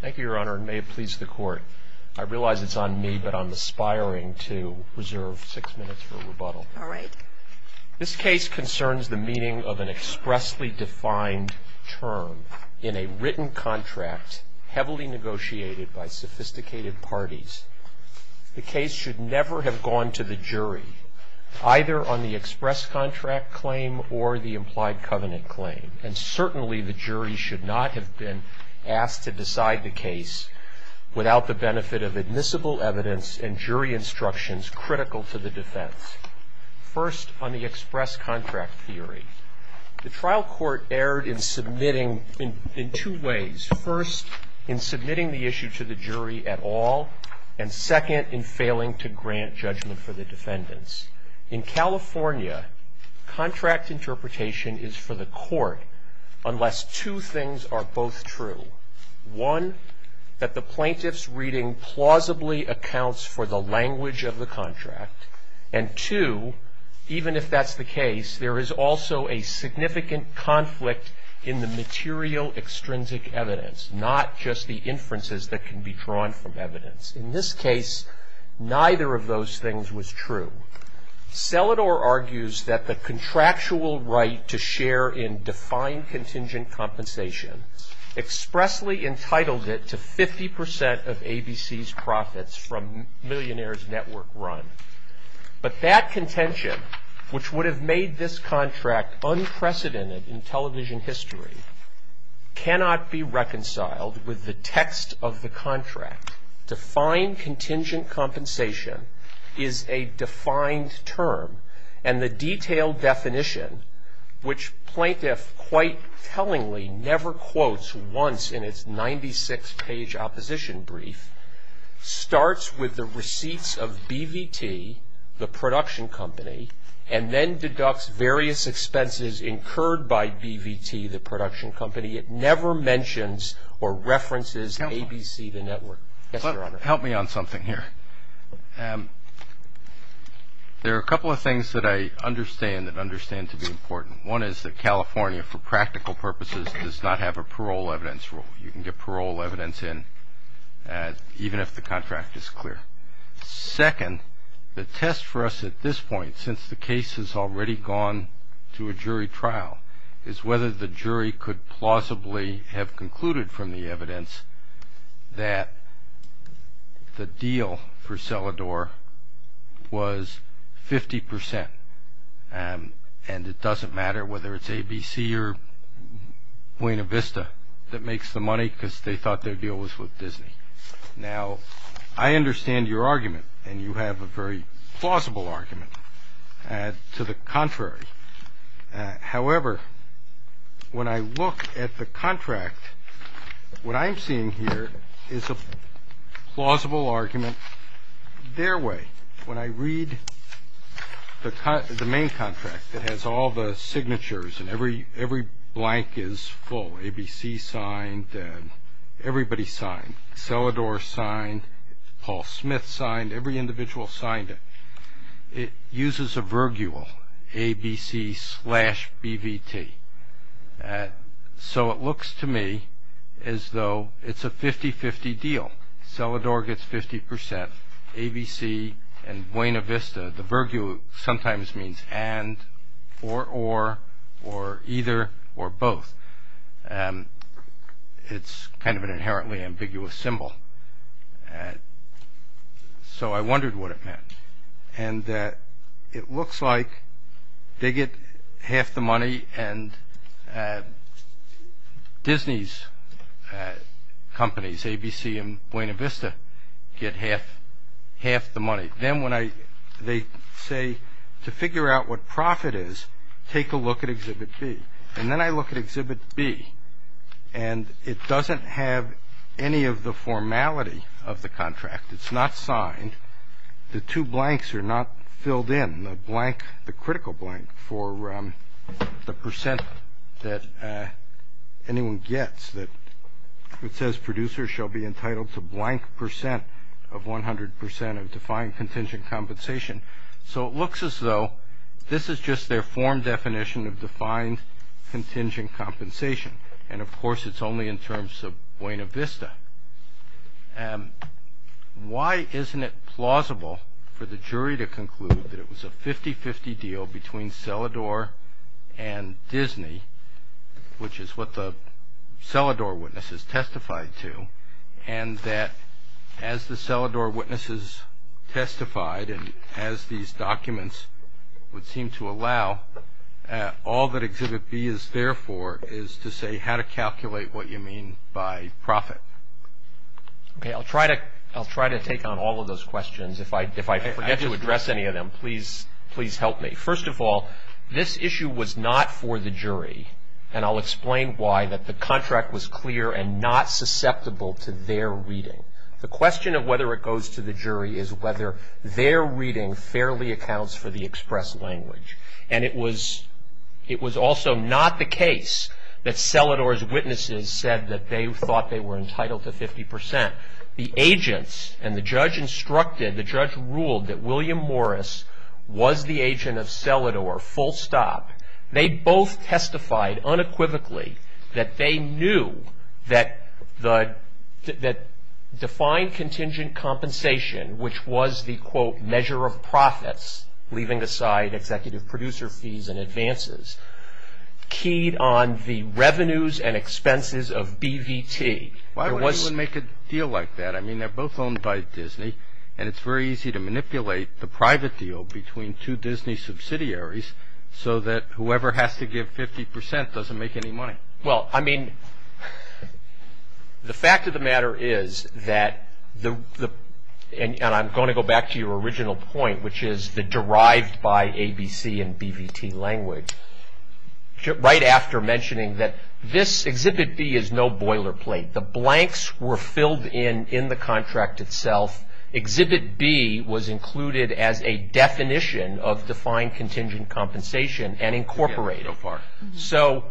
Thank you, Your Honor, and may it please the Court. I realize it's on me, but I'm aspiring to reserve six minutes for rebuttal. All right. This case concerns the meaning of an expressly defined term in a written contract heavily negotiated by sophisticated parties. The case should never have gone to the jury, either on the express contract claim or the implied covenant claim, and certainly the jury should not have been asked to decide the case without the benefit of admissible evidence and jury instructions critical to the defense. First, on the express contract theory. The trial court erred in two ways. First, in submitting the issue to the jury at all, and second, in failing to grant judgment for the defendants. In California, contract interpretation is for the court unless two things are both true. One, that the plaintiff's reading plausibly accounts for the language of the contract, and two, even if that's the case, there is also a significant conflict in the material extrinsic evidence, not just the inferences that can be drawn from evidence. In this case, neither of those things was true. Selador argues that the contractual right to share in defined contingent compensation expressly entitled it to 50 percent of ABC's profits from Millionaire's Network Run. But that contention, which would have made this contract unprecedented in television history, cannot be reconciled with the text of the contract. Defined contingent compensation is a defined term, and the detailed definition, which plaintiff quite tellingly never quotes once in its 96-page opposition brief, starts with the receipts of BVT, the production company, and then deducts various expenses incurred by BVT, the production company. It never mentions or references ABC, the network. Yes, Your Honor. Help me on something here. There are a couple of things that I understand that understand to be important. One is that California, for practical purposes, does not have a parole evidence rule. You can get parole evidence in even if the contract is clear. Second, the test for us at this point, since the case has already gone to a jury trial, is whether the jury could plausibly have concluded from the evidence that the deal for Selador was 50 percent. And it doesn't matter whether it's ABC or Buena Vista that makes the money because they thought their deal was with Disney. Now, I understand your argument, and you have a very plausible argument to the contrary. However, when I look at the contract, what I'm seeing here is a plausible argument their way. When I read the main contract that has all the signatures and every blank is full, ABC signed, everybody signed, Selador signed, Paul Smith signed, every individual signed it. It uses a virgule, ABC slash BVT. So it looks to me as though it's a 50-50 deal. Selador gets 50 percent, ABC and Buena Vista. The virgule sometimes means and, or, or, or either, or both. It's kind of an inherently ambiguous symbol. So I wondered what it meant. And it looks like they get half the money and Disney's companies, ABC and Buena Vista, get half the money. Then when I, they say, to figure out what profit is, take a look at Exhibit B. And then I look at Exhibit B, and it doesn't have any of the formality of the contract. It's not signed. The two blanks are not filled in, the blank, the critical blank for the percent that anyone gets. It says producers shall be entitled to blank percent of 100 percent of defined contingent compensation. So it looks as though this is just their form definition of defined contingent compensation. And, of course, it's only in terms of Buena Vista. Why isn't it plausible for the jury to conclude that it was a 50-50 deal between Selador and Disney, which is what the Selador witnesses testified to, and that as the Selador witnesses testified and as these documents would seem to allow, all that Exhibit B is there for is to say how to calculate what you mean by profit. Okay, I'll try to, I'll try to take on all of those questions. If I, if I forget to address any of them, please, please help me. First of all, this issue was not for the jury, and I'll explain why, that the contract was clear and not susceptible to their reading. The question of whether it goes to the jury is whether their reading fairly accounts for the express language. And it was, it was also not the case that Selador's witnesses said that they thought they were entitled to 50 percent. The agents and the judge instructed, the judge ruled that William Morris was the agent of Selador, full stop. They both testified unequivocally that they knew that the, that defined contingent compensation, which was the, quote, measure of profits, leaving aside executive producer fees and advances, keyed on the revenues and expenses of BVT. Why would anyone make a deal like that? I mean, they're both owned by Disney, and it's very easy to manipulate the private deal between two Disney subsidiaries so that whoever has to give 50 percent doesn't make any money. Well, I mean, the fact of the matter is that the, and I'm going to go back to your original point, which is the derived by ABC and BVT language. Right after mentioning that this Exhibit B is no boilerplate. The blanks were filled in in the contract itself. Exhibit B was included as a definition of defined contingent compensation and incorporated. So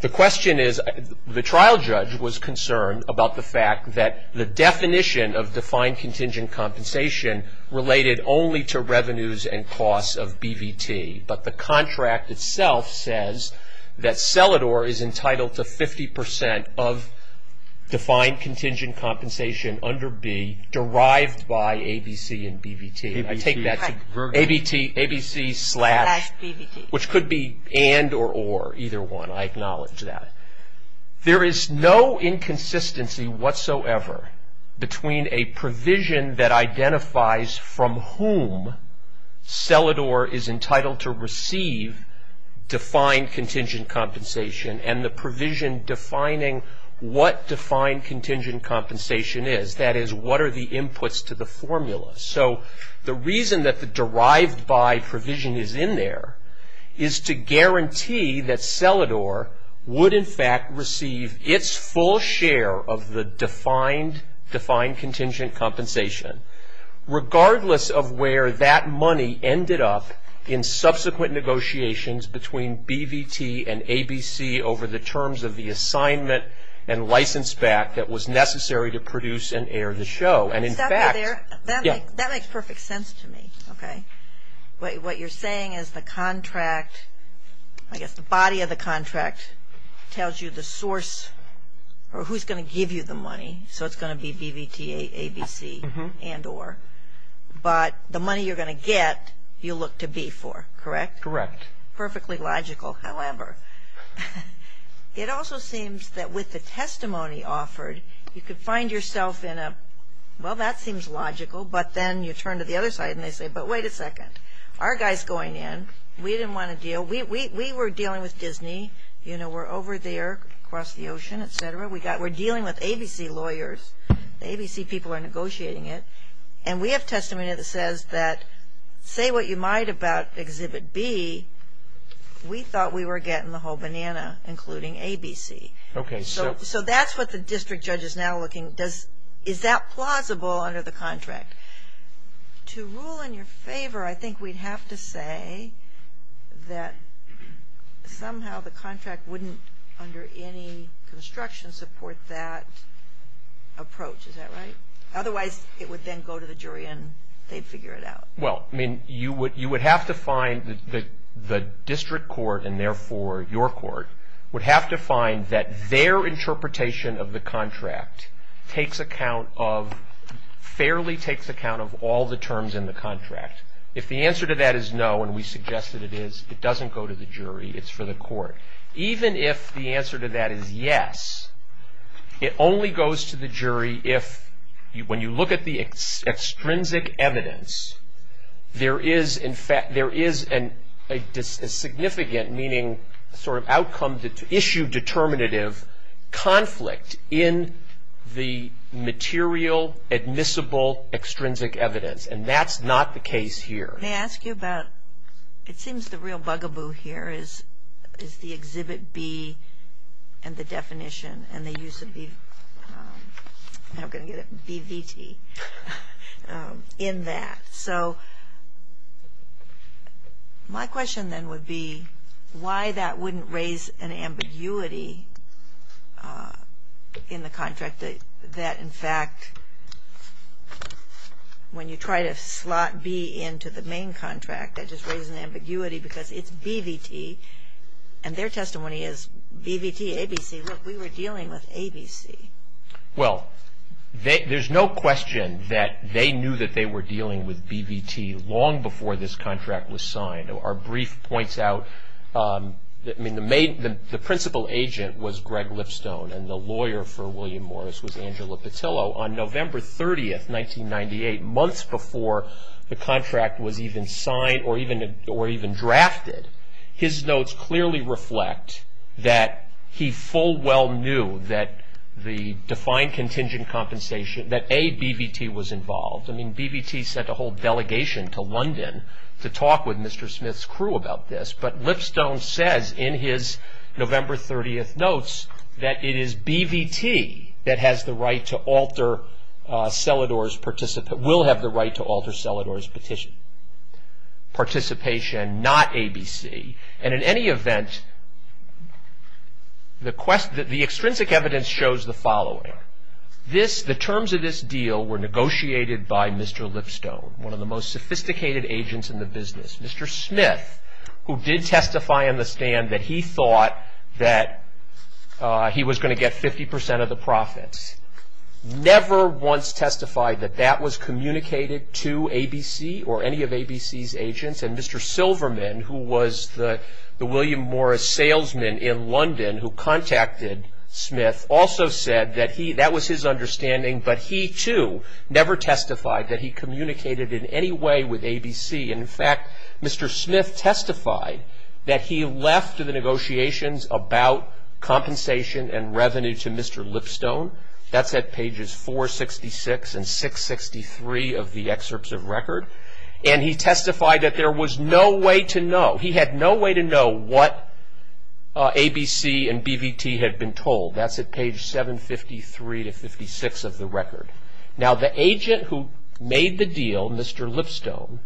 the question is, the trial judge was concerned about the fact that the definition of defined contingent compensation related only to revenues and costs of BVT, but the contract itself says that Selador is entitled to 50 percent of defined contingent compensation under B derived by ABC and BVT. I take that to be, ABC slash, which could be and or or, either one. I acknowledge that. There is no inconsistency whatsoever between a provision that identifies from whom Selador is entitled to receive defined contingent compensation and the provision defining what defined contingent compensation is. That is, what are the inputs to the formula? So the reason that the derived by provision is in there is to guarantee that Selador would, in fact, receive its full share of the defined, defined contingent compensation. Regardless of where that money ended up in subsequent negotiations between BVT and ABC over the terms of the assignment and license back that was necessary to produce and air the show. And in fact. That makes perfect sense to me. Okay. What you're saying is the contract, I guess the body of the contract, so it's going to be BVT, ABC and or. But the money you're going to get, you look to B for, correct? Correct. Perfectly logical. However, it also seems that with the testimony offered, you could find yourself in a, well, that seems logical, but then you turn to the other side and they say, but wait a second. Our guy's going in. We didn't want to deal. We were dealing with Disney. You know, we're over there across the ocean, et cetera. We're dealing with ABC lawyers. ABC people are negotiating it. And we have testimony that says that say what you might about exhibit B. We thought we were getting the whole banana, including ABC. Okay. So that's what the district judge is now looking. Is that plausible under the contract? To rule in your favor, I think we'd have to say that somehow the contract wouldn't, under any construction, support that approach. Is that right? Otherwise, it would then go to the jury and they'd figure it out. Well, I mean, you would have to find the district court, and therefore your court, would have to find that their interpretation of the contract takes account of, fairly takes account of all the terms in the contract. If the answer to that is no, and we suggest that it is, it doesn't go to the jury. It's for the court. Even if the answer to that is yes, it only goes to the jury if, when you look at the extrinsic evidence, there is, in fact, there is a significant, meaning sort of outcome issue determinative, conflict in the material admissible extrinsic evidence. And that's not the case here. May I ask you about, it seems the real bugaboo here is the exhibit B and the definition and the use of the, how can I get it, BVT in that. So my question then would be why that wouldn't raise an ambiguity in the contract that, in fact, when you try to slot B into the main contract, that just raises an ambiguity because it's BVT, and their testimony is BVT, ABC. Look, we were dealing with ABC. Well, there's no question that they knew that they were dealing with BVT long before this contract was signed. Our brief points out, I mean, the principal agent was Greg Lipstone, and the lawyer for William Morris was Angela Petillo. On November 30th, 1998, months before the contract was even signed or even drafted, his notes clearly reflect that he full well knew that the defined contingent compensation, that A, BVT was involved. I mean, BVT sent a whole delegation to London to talk with Mr. Smith's crew about this. But Lipstone says in his November 30th notes that it is BVT that has the right to alter Selador's, will have the right to alter Selador's petition participation, not ABC. And in any event, the extrinsic evidence shows the following. The terms of this deal were negotiated by Mr. Lipstone, one of the most sophisticated agents in the business. Mr. Smith, who did testify on the stand that he thought that he was going to get 50 percent of the profits, never once testified that that was communicated to ABC or any of ABC's agents. And Mr. Silverman, who was the William Morris salesman in London who contacted Smith, also said that that was his understanding, but he, too, never testified that he communicated in any way with ABC. And, in fact, Mr. Smith testified that he left the negotiations about compensation and revenue to Mr. Lipstone. That's at pages 466 and 663 of the excerpts of record. And he testified that there was no way to know. He had no way to know what ABC and BVT had been told. That's at page 753 to 56 of the record. Now, the agent who made the deal, Mr. Lipstone,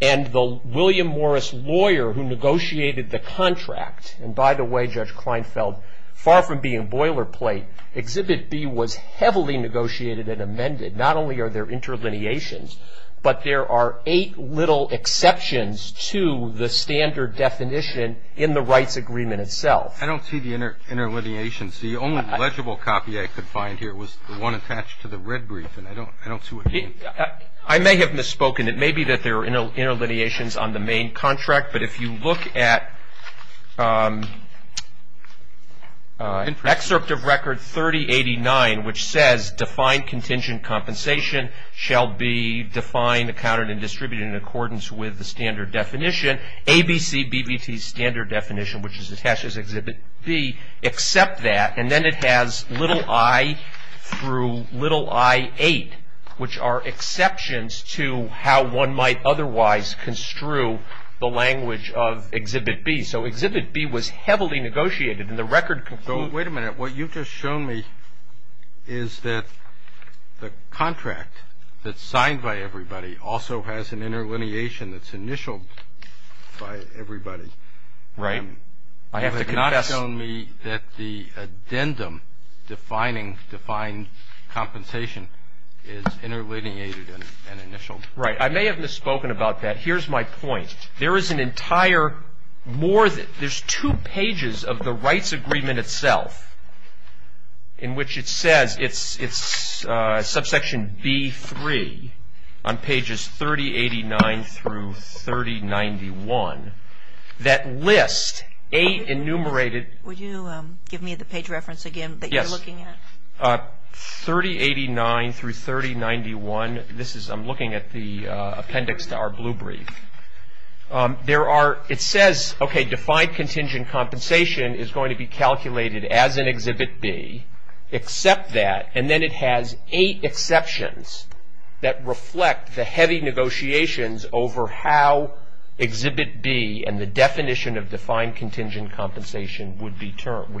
and the William Morris lawyer who negotiated the contract, and by the way, Judge Kleinfeld, far from being boilerplate, Exhibit B was heavily negotiated and amended. Not only are there interlineations, but there are eight little exceptions to the standard definition in the rights agreement itself. I don't see the interlineations. The only legible copy I could find here was the one attached to the red brief, and I don't see what you mean. I may have misspoken. It may be that there are interlineations on the main contract, but if you look at excerpt of record 3089, which says, Defined contingent compensation shall be defined, accounted, and distributed in accordance with the standard definition. ABC, BVT standard definition, which is attached as Exhibit B, except that, and then it has little i through little i8, which are exceptions to how one might otherwise construe the language of Exhibit B. So Exhibit B was heavily negotiated, and the record concludes. Wait a minute. What you've just shown me is that the contract that's signed by everybody also has an interlineation that's initialed by everybody. Right. I have to confess. You have not shown me that the addendum defining defined compensation is interlineated and initialed. Right. I may have misspoken about that. Here's my point. There is an entire more, there's two pages of the rights agreement itself in which it says, it's subsection B3 on pages 3089 through 3091 that list eight enumerated. Would you give me the page reference again that you're looking at? Yes. 3089 through 3091. This is, I'm looking at the appendix to our blue brief. There are, it says, okay, defined contingent compensation is going to be calculated as an Exhibit B, except that, and then it has eight exceptions that reflect the heavy negotiations over how Exhibit B and the definition of defined contingent compensation would be termed.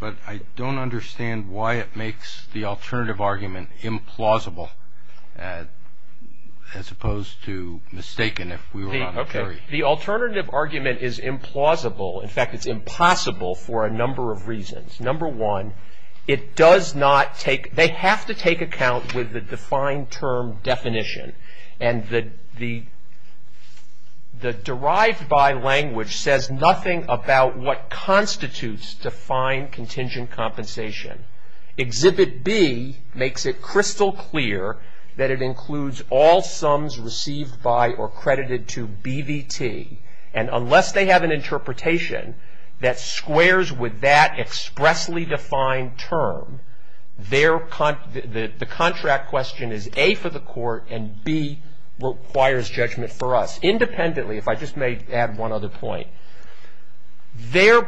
But I don't understand why it makes the alternative argument implausible as opposed to mistaken if we were on a jury. Okay. The alternative argument is implausible. In fact, it's impossible for a number of reasons. Number one, it does not take, they have to take account with the defined term definition, and the derived by language says nothing about what constitutes defined contingent compensation. Exhibit B makes it crystal clear that it includes all sums received by or credited to BVT, and unless they have an interpretation that squares with that expressly defined term, the contract question is, A, for the court, and B, requires judgment for us. Independently, if I just may add one other point, their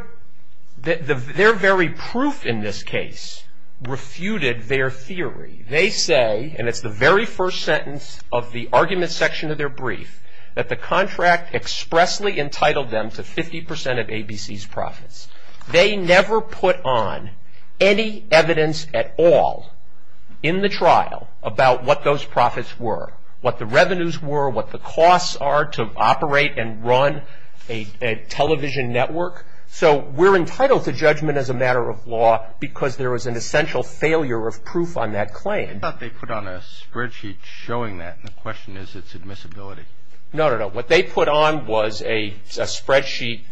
very proof in this case refuted their theory. They say, and it's the very first sentence of the argument section of their brief, that the contract expressly entitled them to 50 percent of ABC's profits. They never put on any evidence at all in the trial about what those profits were, what the revenues were, what the costs are to operate and run a television network. So we're entitled to judgment as a matter of law because there was an essential failure of proof on that claim. I thought they put on a spreadsheet showing that, and the question is its admissibility. No, no, no. What they put on was a spreadsheet.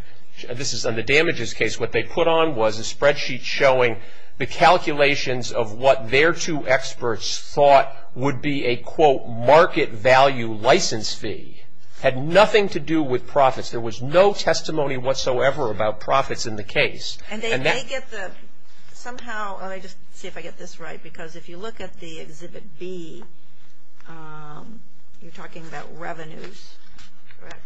This is on the damages case. What they put on was a spreadsheet showing the calculations of what their two experts thought would be a, quote, market value license fee. It had nothing to do with profits. There was no testimony whatsoever about profits in the case. And they may get the, somehow, let me just see if I get this right, because if you look at the Exhibit B, you're talking about revenues, correct?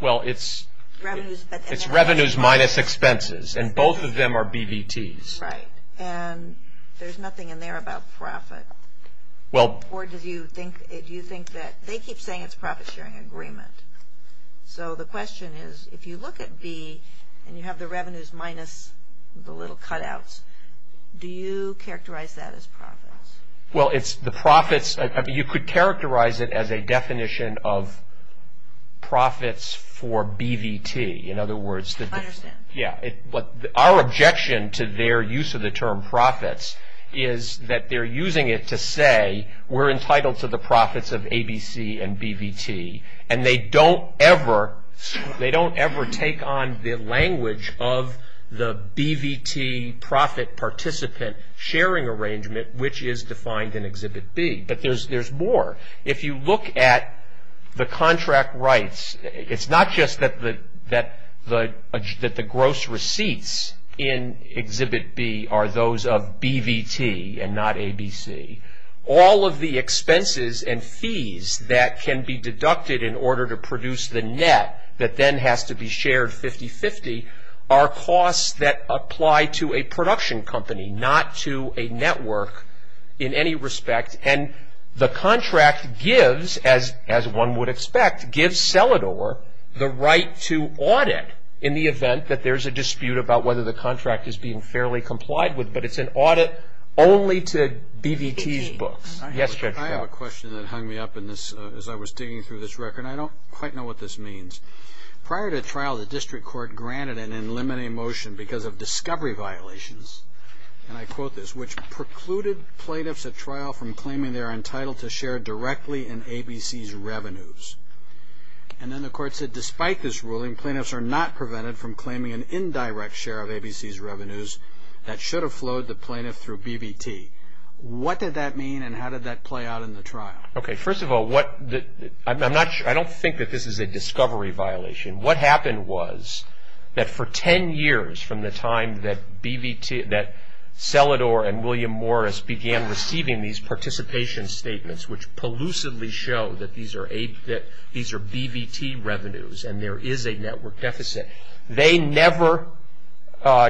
Well, it's revenues minus expenses, and both of them are BBTs. Right. And there's nothing in there about profit. Or do you think that they keep saying it's a profit-sharing agreement. So the question is, if you look at B and you have the revenues minus the little cutouts, do you characterize that as profits? Well, it's the profits. You could characterize it as a definition of profits for BVT. In other words. I understand. Yeah. Our objection to their use of the term profits is that they're using it to say we're entitled to the profits of ABC and BVT, and they don't ever take on the language of the BVT profit participant sharing arrangement, which is defined in Exhibit B. But there's more. If you look at the contract rights, it's not just that the gross receipts in Exhibit B are those of BVT and not ABC. All of the expenses and fees that can be deducted in order to produce the net that then has to be shared 50-50 are costs that apply to a production company, not to a network in any respect. And the contract gives, as one would expect, gives Selador the right to audit in the event that there's a dispute about whether the contract is being fairly complied with. But it's an audit only to BVT's books. Yes, Judge. I have a question that hung me up as I was digging through this record, and I don't quite know what this means. Prior to trial, the district court granted an in limine motion because of discovery violations, and I quote this, which precluded plaintiffs at trial from claiming they're entitled to share directly in ABC's revenues. And then the court said despite this ruling, plaintiffs are not prevented from claiming an indirect share of ABC's revenues that should have flowed to plaintiff through BVT. What did that mean, and how did that play out in the trial? Okay, first of all, I don't think that this is a discovery violation. What happened was that for 10 years from the time that Selador and William Morris began receiving these participation statements, which prelucidly show that these are BVT revenues and there is a network deficit, they never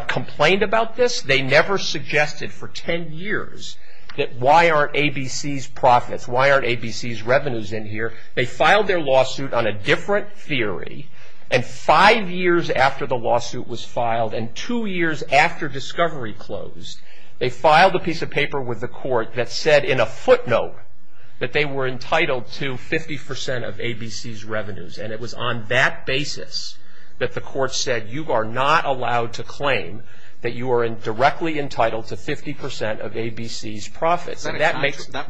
complained about this. They never suggested for 10 years that why aren't ABC's profits, why aren't ABC's revenues in here. They filed their lawsuit on a different theory. And five years after the lawsuit was filed and two years after discovery closed, they filed a piece of paper with the court that said in a footnote that they were entitled to 50% of ABC's revenues. And it was on that basis that the court said you are not allowed to claim that you are directly entitled to 50% of ABC's profits. Was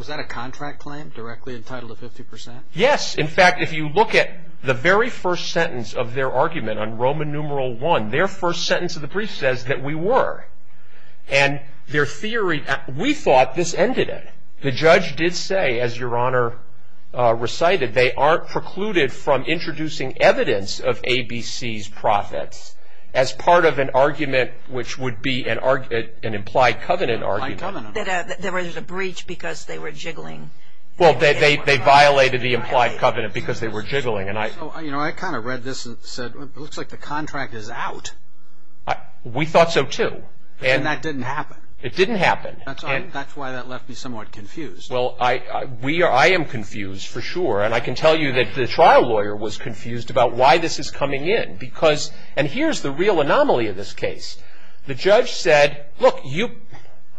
that a contract claim, directly entitled to 50%? Yes. In fact, if you look at the very first sentence of their argument on Roman numeral one, their first sentence of the brief says that we were. And their theory, we thought this ended it. The judge did say, as Your Honor recited, they aren't precluded from introducing evidence of ABC's profits as part of an argument which would be an implied covenant argument. There was a breach because they were jiggling. You know, I kind of read this and said it looks like the contract is out. We thought so too. And that didn't happen. It didn't happen. That's why that left me somewhat confused. Well, I am confused for sure. And I can tell you that the trial lawyer was confused about why this is coming in. And here's the real anomaly of this case. The judge said, look,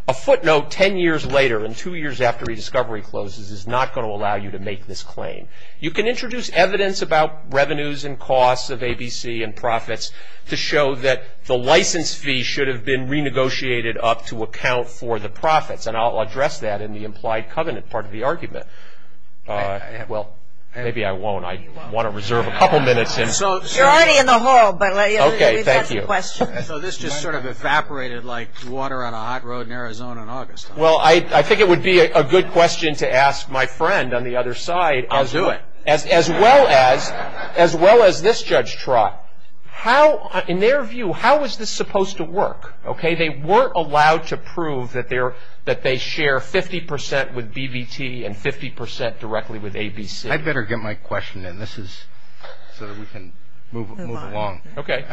a footnote ten years later and two years after rediscovery closes is not going to allow you to make this claim. You can introduce evidence about revenues and costs of ABC and profits to show that the license fee should have been renegotiated up to account for the profits. And I'll address that in the implied covenant part of the argument. Well, maybe I won't. I want to reserve a couple minutes. You're already in the hall. Okay. Thank you. Well, I think it would be a good question to ask my friend on the other side. I'll do it. As well as this judge Trott. How, in their view, how is this supposed to work? Okay. They weren't allowed to prove that they share 50 percent with BBT and 50 percent directly with ABC. I'd better get my question in. This is so that we can move along. Okay.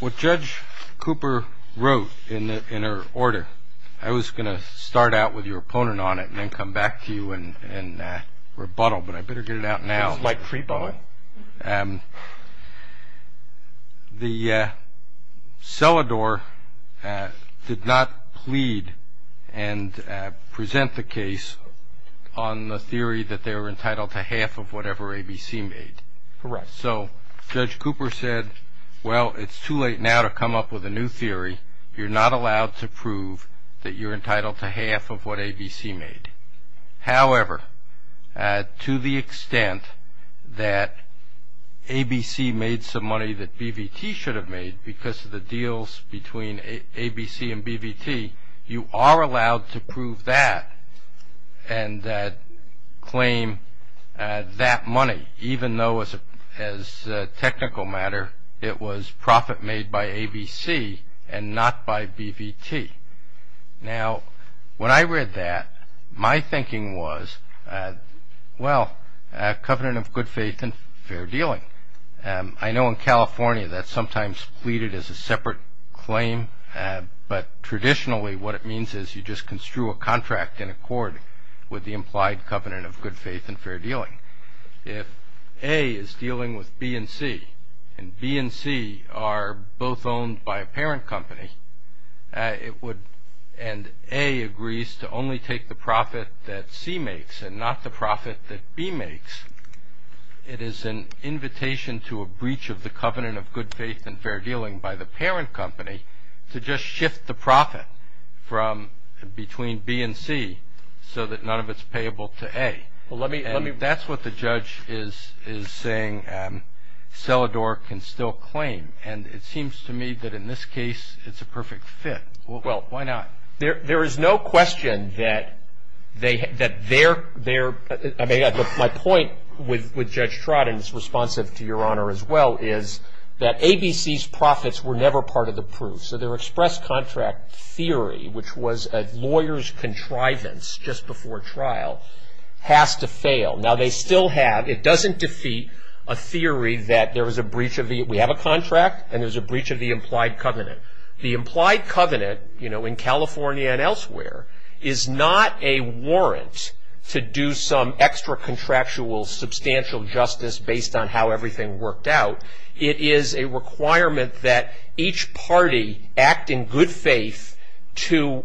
What Judge Cooper wrote in her order, I was going to start out with your opponent on it and then come back to you and rebuttal, but I better get it out now. It's like free bowing. The Selador did not plead and present the case on the theory that they were entitled to half of whatever ABC made. Correct. So Judge Cooper said, well, it's too late now to come up with a new theory. You're not allowed to prove that you're entitled to half of what ABC made. However, to the extent that ABC made some money that BBT should have made because of the deals between ABC and BBT, you are allowed to prove that and claim that money even though as a technical matter it was profit made by ABC and not by BBT. Now, when I read that, my thinking was, well, covenant of good faith and fair dealing. I know in California that's sometimes pleaded as a separate claim, but traditionally what it means is you just construe a contract in accord with the implied covenant of good faith and fair dealing. If A is dealing with B and C, and B and C are both owned by a parent company, and A agrees to only take the profit that C makes and not the profit that B makes, it is an invitation to a breach of the covenant of good faith and fair dealing by the parent company to just shift the profit between B and C so that none of it's payable to A. That's what the judge is saying Selador can still claim, and it seems to me that in this case it's a perfect fit. Well, why not? There is no question that they're, I mean, my point with Judge Trott, and it's responsive to your honor as well, is that ABC's profits were never part of the proof. So their express contract theory, which was a lawyer's contrivance just before trial, has to fail. Now, they still have, it doesn't defeat a theory that there was a breach of the, we have a contract and there's a breach of the implied covenant. The implied covenant, you know, in California and elsewhere, is not a warrant to do some extra contractual substantial justice based on how everything worked out. It is a requirement that each party act in good faith to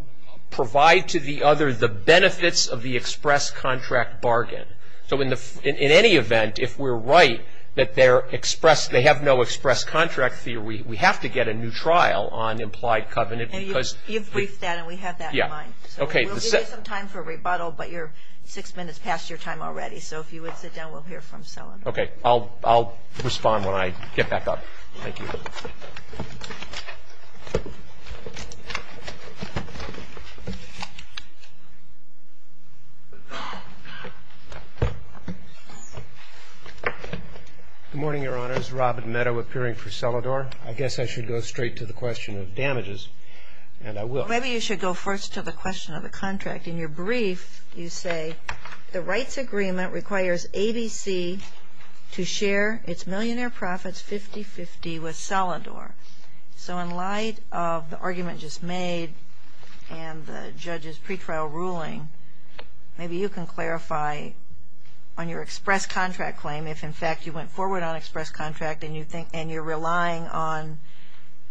provide to the other the benefits of the express contract bargain. So in any event, if we're right that they have no express contract theory, we have to get a new trial on implied covenant because... You've briefed that and we have that in mind. Yeah. Okay. We'll give you some time for rebuttal, but you're six minutes past your time already. So if you would sit down, we'll hear from Selador. Okay. I'll respond when I get back up. Thank you. Good morning, Your Honors. Robin Meadow appearing for Selador. I guess I should go straight to the question of damages, and I will. Maybe you should go first to the question of the contract. In your brief, you say the rights agreement requires ABC to share its millionaire profits 50-50 with Selador. So in light of the argument just made and the judge's pretrial ruling, maybe you can clarify on your express contract claim if, in fact, you went forward on express contract and you're relying on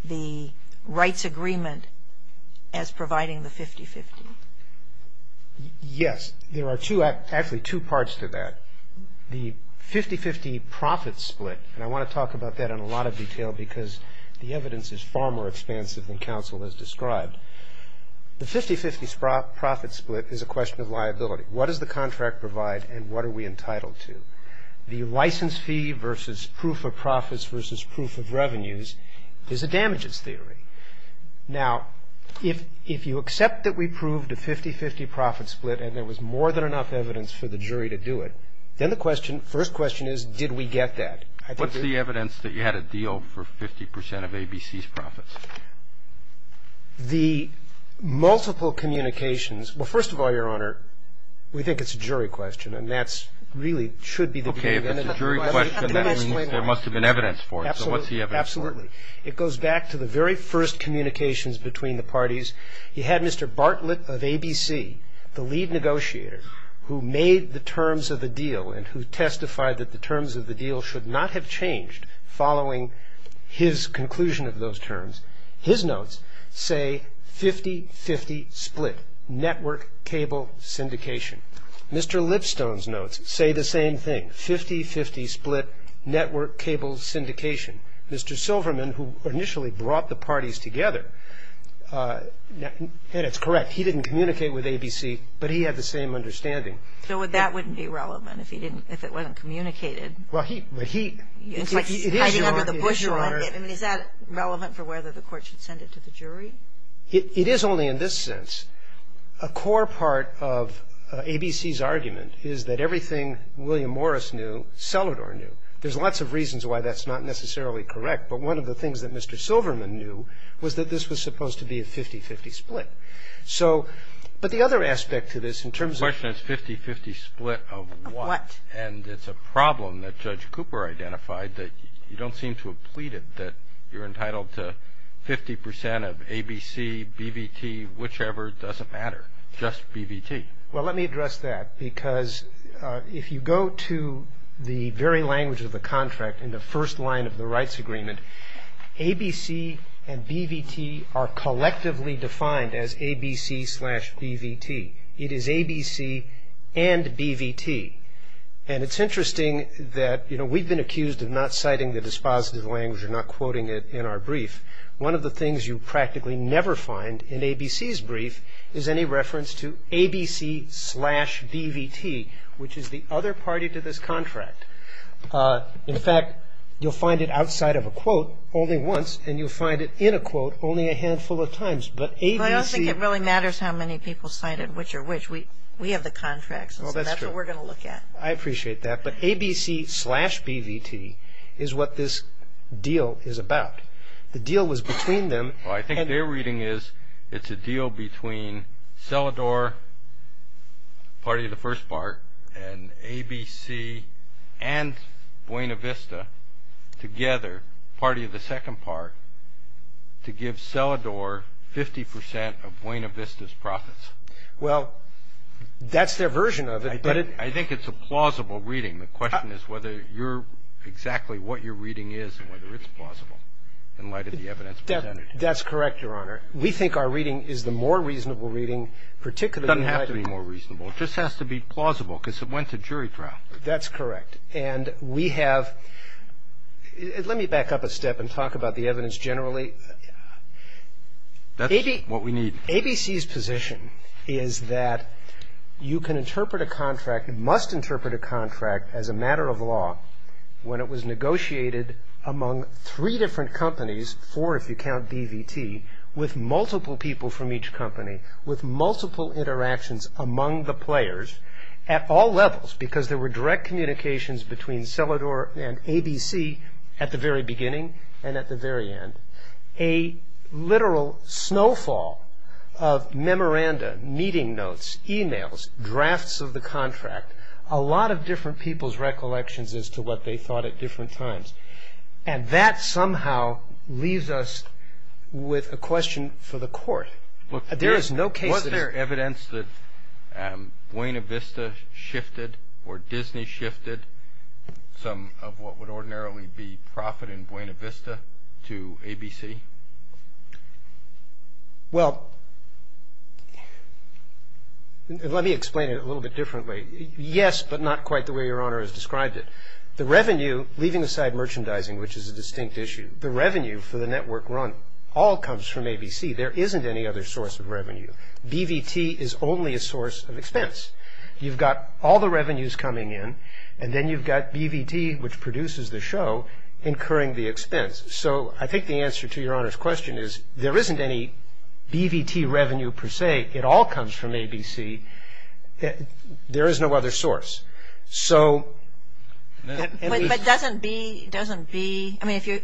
the rights agreement as providing the 50-50. Yes. There are actually two parts to that. The 50-50 profit split, and I want to talk about that in a lot of detail because the evidence is far more expansive than counsel has described. The 50-50 profit split is a question of liability. What does the contract provide and what are we entitled to? The license fee versus proof of profits versus proof of revenues is a damages theory. Now, if you accept that we proved a 50-50 profit split and there was more than enough evidence for the jury to do it, then the first question is, did we get that? What's the evidence that you had a deal for 50 percent of ABC's profits? The multiple communications, well, first of all, Your Honor, we think it's a jury question, and that really should be the beginning. Okay, if it's a jury question, that means there must have been evidence for it. So what's the evidence for it? He had Mr. Bartlett of ABC, the lead negotiator, who made the terms of the deal and who testified that the terms of the deal should not have changed following his conclusion of those terms. His notes say 50-50 split, network cable syndication. Mr. Lipstone's notes say the same thing, 50-50 split, network cable syndication. Mr. Silverman, who initially brought the parties together, and it's correct, he didn't communicate with ABC, but he had the same understanding. So that wouldn't be relevant if he didn't – if it wasn't communicated? Well, he – but he – It's like hiding under the bush, Your Honor. It is, Your Honor. I mean, is that relevant for whether the court should send it to the jury? It is only in this sense. A core part of ABC's argument is that everything William Morris knew, Selador knew. There's lots of reasons why that's not necessarily correct, but one of the things that Mr. Silverman knew was that this was supposed to be a 50-50 split. So – but the other aspect to this in terms of – The question is 50-50 split of what? What? And it's a problem that Judge Cooper identified that you don't seem to have pleaded that you're entitled to 50 percent of ABC, BVT, whichever, doesn't matter, just BVT. Well, let me address that because if you go to the very language of the contract in the first line of the rights agreement, ABC and BVT are collectively defined as ABC slash BVT. It is ABC and BVT. And it's interesting that, you know, we've been accused of not citing the dispositive language or not quoting it in our brief. One of the things you practically never find in ABC's brief is any reference to ABC slash BVT, which is the other party to this contract. In fact, you'll find it outside of a quote only once, and you'll find it in a quote only a handful of times. But ABC – Well, I don't think it really matters how many people cited which or which. We have the contracts, and so that's what we're going to look at. I appreciate that. But ABC slash BVT is what this deal is about. The deal was between them. Well, I think their reading is it's a deal between Selador, party of the first part, and ABC and Buena Vista together, party of the second part, to give Selador 50 percent of Buena Vista's profits. Well, that's their version of it, but it – I think it's a plausible reading. The question is whether you're – exactly what your reading is and whether it's plausible in light of the evidence presented. That's correct, Your Honor. We think our reading is the more reasonable reading, particularly in light of – It doesn't have to be more reasonable. It just has to be plausible because it went to jury trial. That's correct. And we have – let me back up a step and talk about the evidence generally. That's what we need. ABC's position is that you can interpret a contract – must interpret a contract as a matter of law when it was negotiated among three different companies, four if you count BVT, with multiple people from each company, with multiple interactions among the players at all levels because there were direct communications between Selador and ABC at the very beginning and at the very end. A literal snowfall of memoranda, meeting notes, e-mails, drafts of the contract, a lot of different people's recollections as to what they thought at different times. And that somehow leaves us with a question for the court. There is no case – Was there evidence that Buena Vista shifted or Disney shifted some of what would ordinarily be profit in Buena Vista to ABC? Well, let me explain it a little bit differently. Yes, but not quite the way Your Honor has described it. The revenue, leaving aside merchandising, which is a distinct issue, the revenue for the network run all comes from ABC. There isn't any other source of revenue. BVT is only a source of expense. You've got all the revenues coming in and then you've got BVT, which produces the show, incurring the expense. So I think the answer to Your Honor's question is there isn't any BVT revenue per se. It all comes from ABC. There is no other source. So – But doesn't B – doesn't B – I mean, if you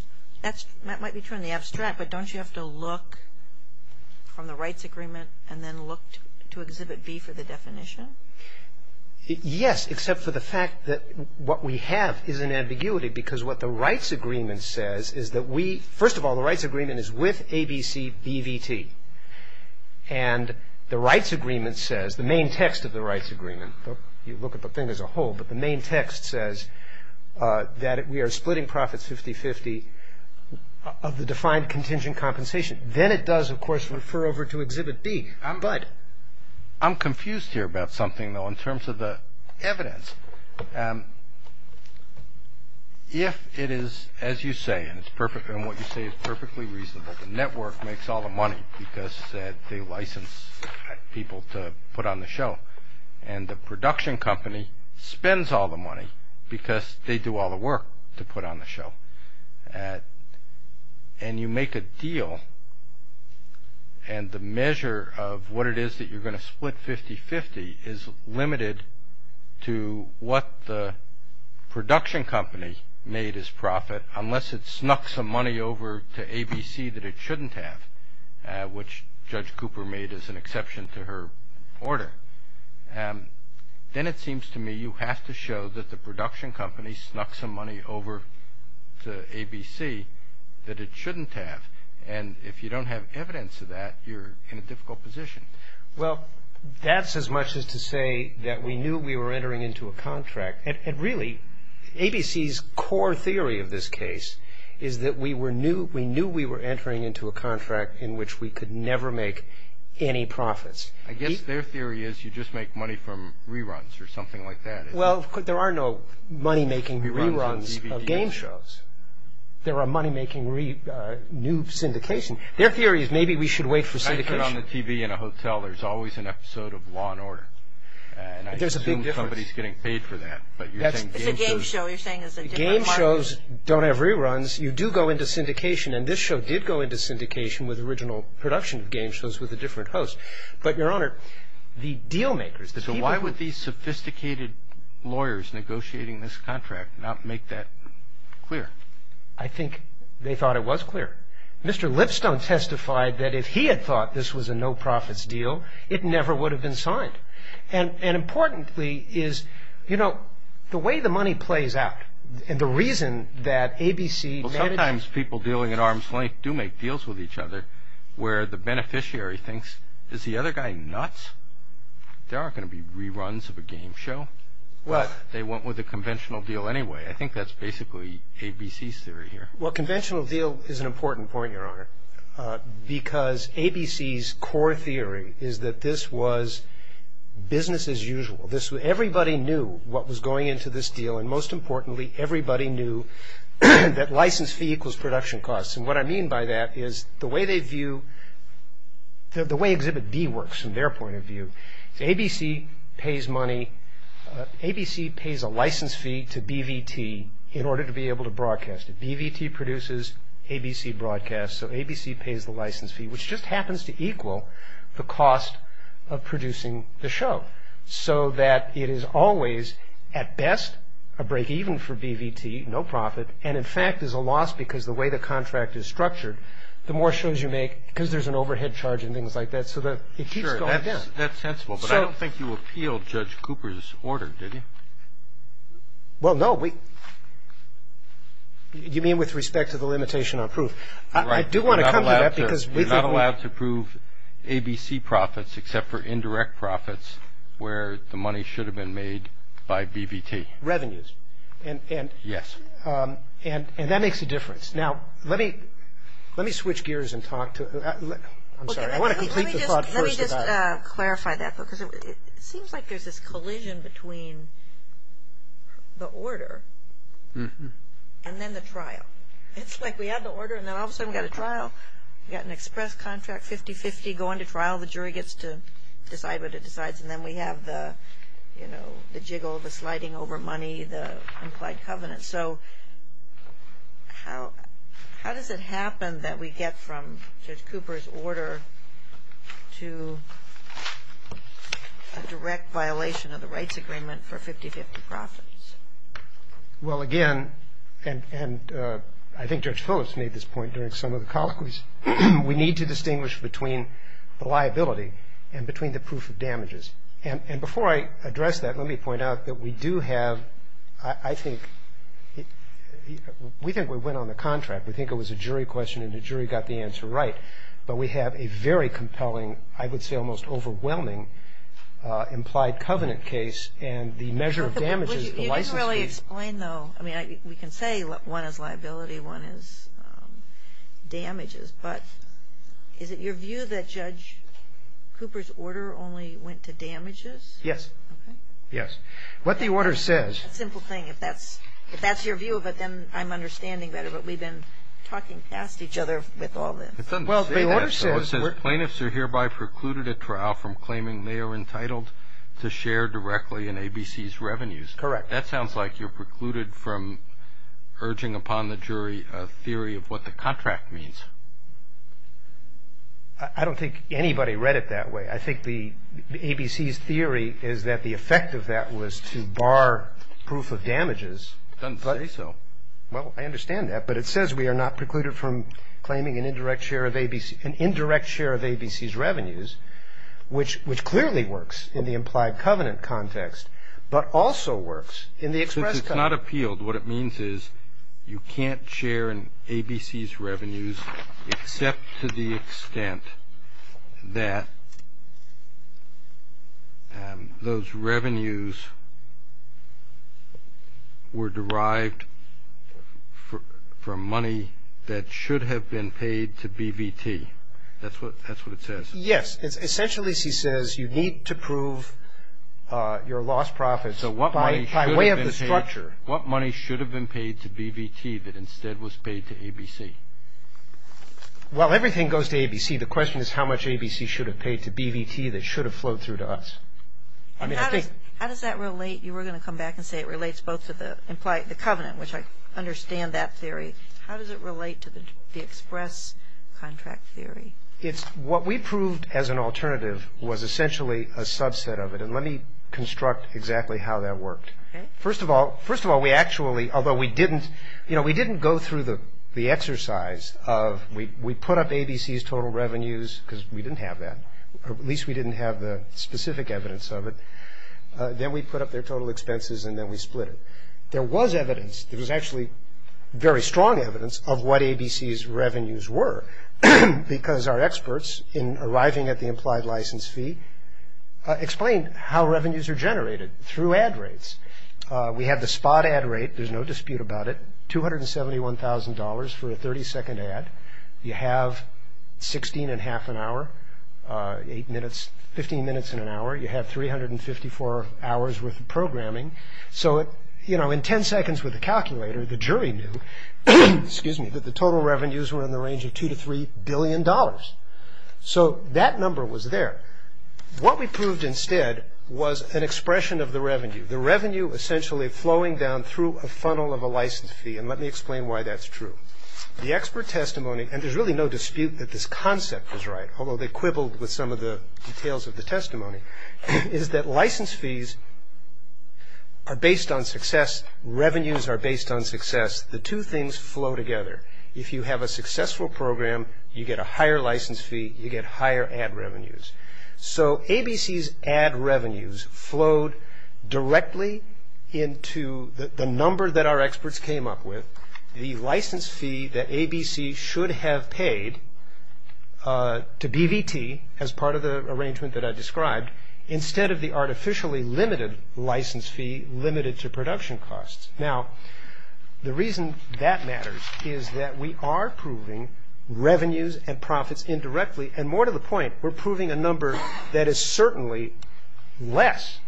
– that might be too in the abstract, but don't you have to look from the rights agreement and then look to Exhibit B for the definition? Yes, except for the fact that what we have is an ambiguity because what the rights agreement says is that we – first of all, the rights agreement is with ABC BVT. And the rights agreement says – the main text of the rights agreement, you look at the thing as a whole, but the main text says that we are splitting profits 50-50 of the defined contingent compensation. Then it does, of course, refer over to Exhibit B, but – This is something, though, in terms of the evidence. If it is, as you say, and what you say is perfectly reasonable, the network makes all the money because they license people to put on the show, and the production company spends all the money because they do all the work to put on the show, and you make a deal and the measure of what it is that you're going to split 50-50 is limited to what the production company made as profit, unless it snuck some money over to ABC that it shouldn't have, which Judge Cooper made as an exception to her order. Then it seems to me you have to show that the production company snuck some money over to ABC that it shouldn't have, and if you don't have evidence of that, you're in a difficult position. Well, that's as much as to say that we knew we were entering into a contract. And really, ABC's core theory of this case is that we knew we were entering into a contract in which we could never make any profits. I guess their theory is you just make money from reruns or something like that. Well, there are no money-making reruns of game shows. There are money-making new syndication. Their theory is maybe we should wait for syndication. I turn on the TV in a hotel, there's always an episode of Law and Order. There's a big difference. And I assume somebody's getting paid for that. It's a game show. You're saying it's a different market. Game shows don't have reruns. You do go into syndication, and this show did go into syndication with original production of game shows with a different host. But, Your Honor, the deal-makers, the people who- So why would these sophisticated lawyers negotiating this contract not make that clear? I think they thought it was clear. Mr. Lipstone testified that if he had thought this was a no-profits deal, it never would have been signed. And importantly is, you know, the way the money plays out and the reason that ABC- Well, sometimes people dealing at arm's length do make deals with each other where the beneficiary thinks, Is the other guy nuts? There aren't going to be reruns of a game show. What? They went with a conventional deal anyway. I think that's basically ABC's theory here. Well, conventional deal is an important point, Your Honor, because ABC's core theory is that this was business as usual. Everybody knew what was going into this deal, and most importantly everybody knew that license fee equals production costs. And what I mean by that is the way they view-the way Exhibit B works from their point of view, ABC pays money-ABC pays a license fee to BVT in order to be able to broadcast it. BVT produces, ABC broadcasts, so ABC pays the license fee, which just happens to equal the cost of producing the show. So that it is always, at best, a break-even for BVT, no profit, and in fact is a loss because the way the contract is structured, the more shows you make because there's an overhead charge and things like that, so it keeps going down. Sure, that's sensible, but I don't think you appealed Judge Cooper's order, did you? Well, no, we-you mean with respect to the limitation on proof? I do want to come to that because we think- You're not allowed to prove ABC profits except for indirect profits where the money should have been made by BVT. Revenues. Revenues. Yes. And that makes a difference. Now, let me switch gears and talk to-I'm sorry, I want to complete the thought first about- Let me just clarify that because it seems like there's this collision between the order and then the trial. It's like we have the order and then all of a sudden we've got a trial, we've got an express contract, 50-50, go into trial, the jury gets to decide what it decides, and then we have the, you know, the jiggle, the sliding over money, the implied covenant. So how does it happen that we get from Judge Cooper's order to a direct violation of the rights agreement for 50-50 profits? Well, again, and I think Judge Phillips made this point during some of the colloquies, we need to distinguish between the liability and between the proof of damages. And before I address that, let me point out that we do have-I think-we think we went on the contract, we think it was a jury question and the jury got the answer right, but we have a very compelling, I would say almost overwhelming, implied covenant case and the measure of damages- Let me explain, though. I mean, we can say one is liability, one is damages, but is it your view that Judge Cooper's order only went to damages? Yes. Okay. Yes. What the order says- Simple thing. If that's your view of it, then I'm understanding better, but we've been talking past each other with all this. Well, the order says- It says, Plaintiffs are hereby precluded at trial from claiming they are entitled to share directly in ABC's revenues. Correct. That sounds like you're precluded from urging upon the jury a theory of what the contract means. I don't think anybody read it that way. I think ABC's theory is that the effect of that was to bar proof of damages. It doesn't say so. Well, I understand that, but it says we are not precluded from claiming an indirect share of ABC's revenues, which clearly works in the implied covenant context, but also works in the express covenant. Since it's not appealed, what it means is you can't share in ABC's revenues except to the extent that those revenues were derived from money that should have been paid to BVT. That's what it says. Yes. Essentially, she says, you need to prove your lost profits by way of the structure. So what money should have been paid to BVT that instead was paid to ABC? Well, everything goes to ABC. The question is how much ABC should have paid to BVT that should have flowed through to us. How does that relate? You were going to come back and say it relates both to the implied covenant, which I understand that theory. How does it relate to the express contract theory? What we proved as an alternative was essentially a subset of it, and let me construct exactly how that worked. First of all, we actually, although we didn't go through the exercise of we put up ABC's total revenues because we didn't have that, or at least we didn't have the specific evidence of it. Then we put up their total expenses, and then we split it. There was evidence. There was actually very strong evidence of what ABC's revenues were because our experts, in arriving at the implied license fee, explained how revenues are generated through ad rates. We have the spot ad rate. There's no dispute about it. $271,000 for a 30-second ad. You have 16 1⁄2 an hour, 15 minutes in an hour. You have 354 hours worth of programming. So in 10 seconds with a calculator, the jury knew that the total revenues were in the range of $2 to $3 billion. So that number was there. What we proved instead was an expression of the revenue, the revenue essentially flowing down through a funnel of a license fee, and let me explain why that's true. The expert testimony, and there's really no dispute that this concept was right, although they quibbled with some of the details of the testimony, is that license fees are based on success. Revenues are based on success. The two things flow together. If you have a successful program, you get a higher license fee. You get higher ad revenues. So ABC's ad revenues flowed directly into the number that our experts came up with, the license fee that ABC should have paid to BVT, as part of the arrangement that I described, instead of the artificially limited license fee limited to production costs. Now, the reason that matters is that we are proving revenues and profits indirectly, and more to the point, we're proving a number that is certainly less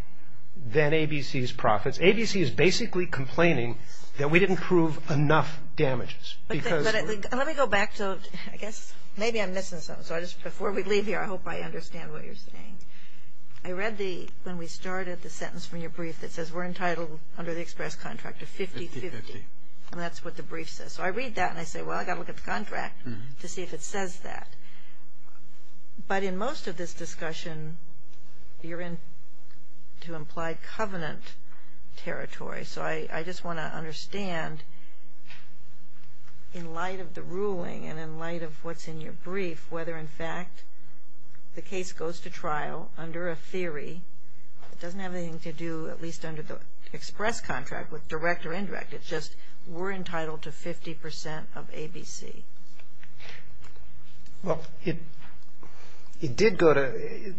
than ABC's profits. ABC is basically complaining that we didn't prove enough damages. Let me go back to, I guess, maybe I'm missing something. So before we leave here, I hope I understand what you're saying. I read the, when we started, the sentence from your brief that says, we're entitled under the express contract of 50-50. And that's what the brief says. So I read that and I say, well, I've got to look at the contract to see if it says that. But in most of this discussion, you're in to imply covenant territory. So I just want to understand, in light of the ruling and in light of what's in your brief, whether, in fact, the case goes to trial under a theory. It doesn't have anything to do, at least under the express contract, with direct or indirect. It's just, we're entitled to 50% of ABC. Well, it did go to,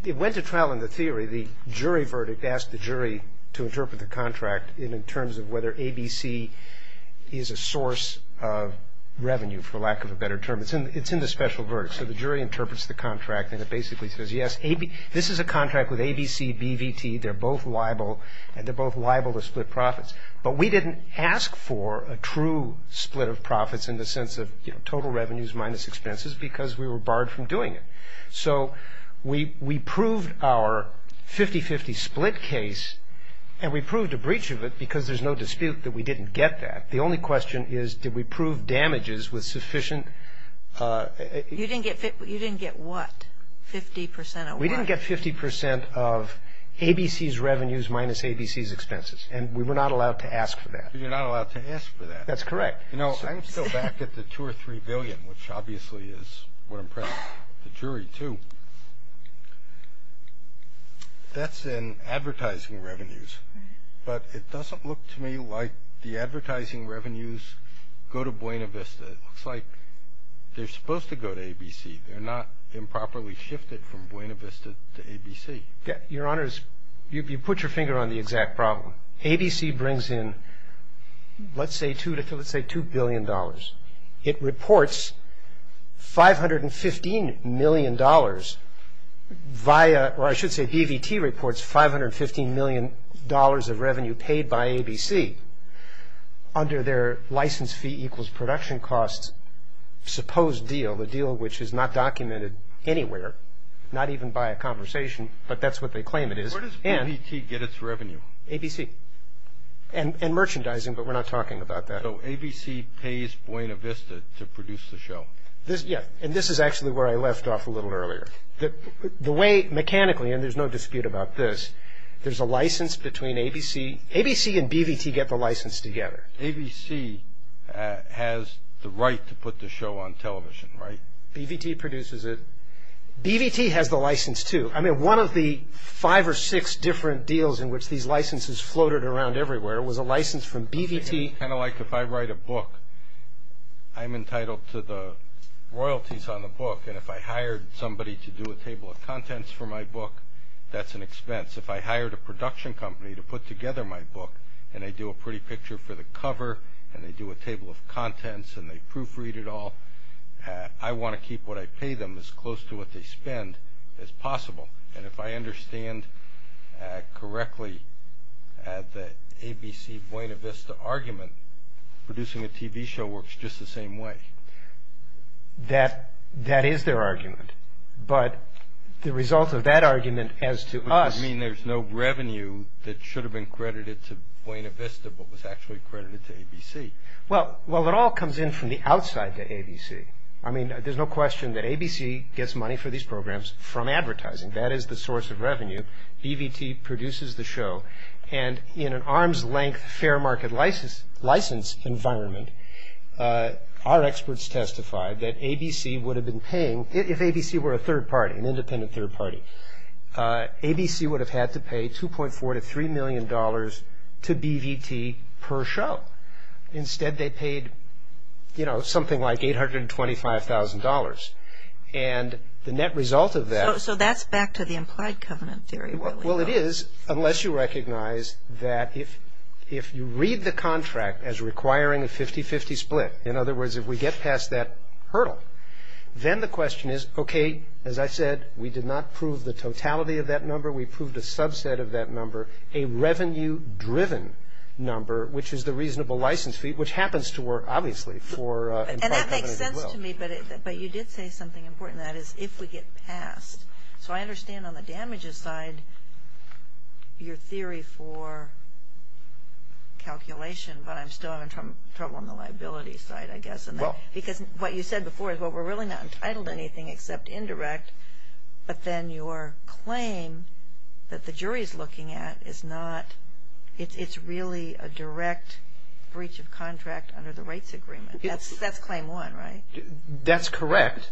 it went to trial in the theory. The jury verdict asked the jury to interpret the contract in terms of whether ABC is a source of revenue, for lack of a better term. It's in the special verdict. So the jury interprets the contract and it basically says, yes, this is a contract with ABC, BVT. They're both liable, and they're both liable to split profits. But we didn't ask for a true split of profits in the sense of total revenues minus expenses because we were barred from doing it. So we proved our 50-50 split case, and we proved a breach of it because there's no dispute that we didn't get that. The only question is, did we prove damages with sufficient ---- You didn't get what? 50% of what? We didn't get 50% of ABC's revenues minus ABC's expenses. And we were not allowed to ask for that. You're not allowed to ask for that. That's correct. You know, I'm still back at the 2 or 3 billion, which obviously is what impressed the jury, too. That's in advertising revenues. But it doesn't look to me like the advertising revenues go to Buena Vista. It looks like they're supposed to go to ABC. They're not improperly shifted from Buena Vista to ABC. Your Honor, you put your finger on the exact problem. ABC brings in, let's say, $2 billion. It reports $515 million via or I should say BVT reports $515 million of revenue paid by ABC under their license fee equals production costs supposed deal, the deal which is not documented anywhere, not even by a conversation, but that's what they claim it is. Where does BVT get its revenue? ABC. And merchandising, but we're not talking about that. So ABC pays Buena Vista to produce the show? Yeah. And this is actually where I left off a little earlier. The way mechanically, and there's no dispute about this, there's a license between ABC. ABC and BVT get the license together. ABC has the right to put the show on television, right? BVT produces it. BVT has the license, too. I mean, one of the five or six different deals in which these licenses floated around everywhere was a license from BVT. Kind of like if I write a book, I'm entitled to the royalties on the book, and if I hired somebody to do a table of contents for my book, that's an expense. If I hired a production company to put together my book and they do a pretty picture for the cover and they do a table of contents and they proofread it all, I want to keep what I pay them as close to what they spend as possible. And if I understand correctly, the ABC-Buena Vista argument, producing a TV show works just the same way. That is their argument. But the result of that argument as to us... Which would mean there's no revenue that should have been credited to Buena Vista but was actually credited to ABC. Well, it all comes in from the outside to ABC. I mean, there's no question that ABC gets money for these programs from advertising. That is the source of revenue. BVT produces the show. And in an arm's-length fair market license environment, our experts testified that ABC would have been paying... If ABC were a third party, an independent third party, ABC would have had to pay $2.4 to $3 million to BVT per show. Instead, they paid, you know, something like $825,000. And the net result of that... So that's back to the implied covenant theory, really. Well, it is, unless you recognize that if you read the contract as requiring a 50-50 split, in other words, if we get past that hurdle, then the question is, okay, as I said, we did not prove the totality of that number, we proved a subset of that number, a revenue-driven number, which is the reasonable license fee, which happens to work, obviously, for implied covenant as well. And that makes sense to me, but you did say something important, and that is if we get past... So I understand on the damages side your theory for calculation, but I'm still having trouble on the liability side, I guess. Well... Because what you said before is, well, we're really not entitled to anything except indirect, but then your claim that the jury's looking at is not... It's really a direct breach of contract under the rights agreement. That's claim one, right? That's correct.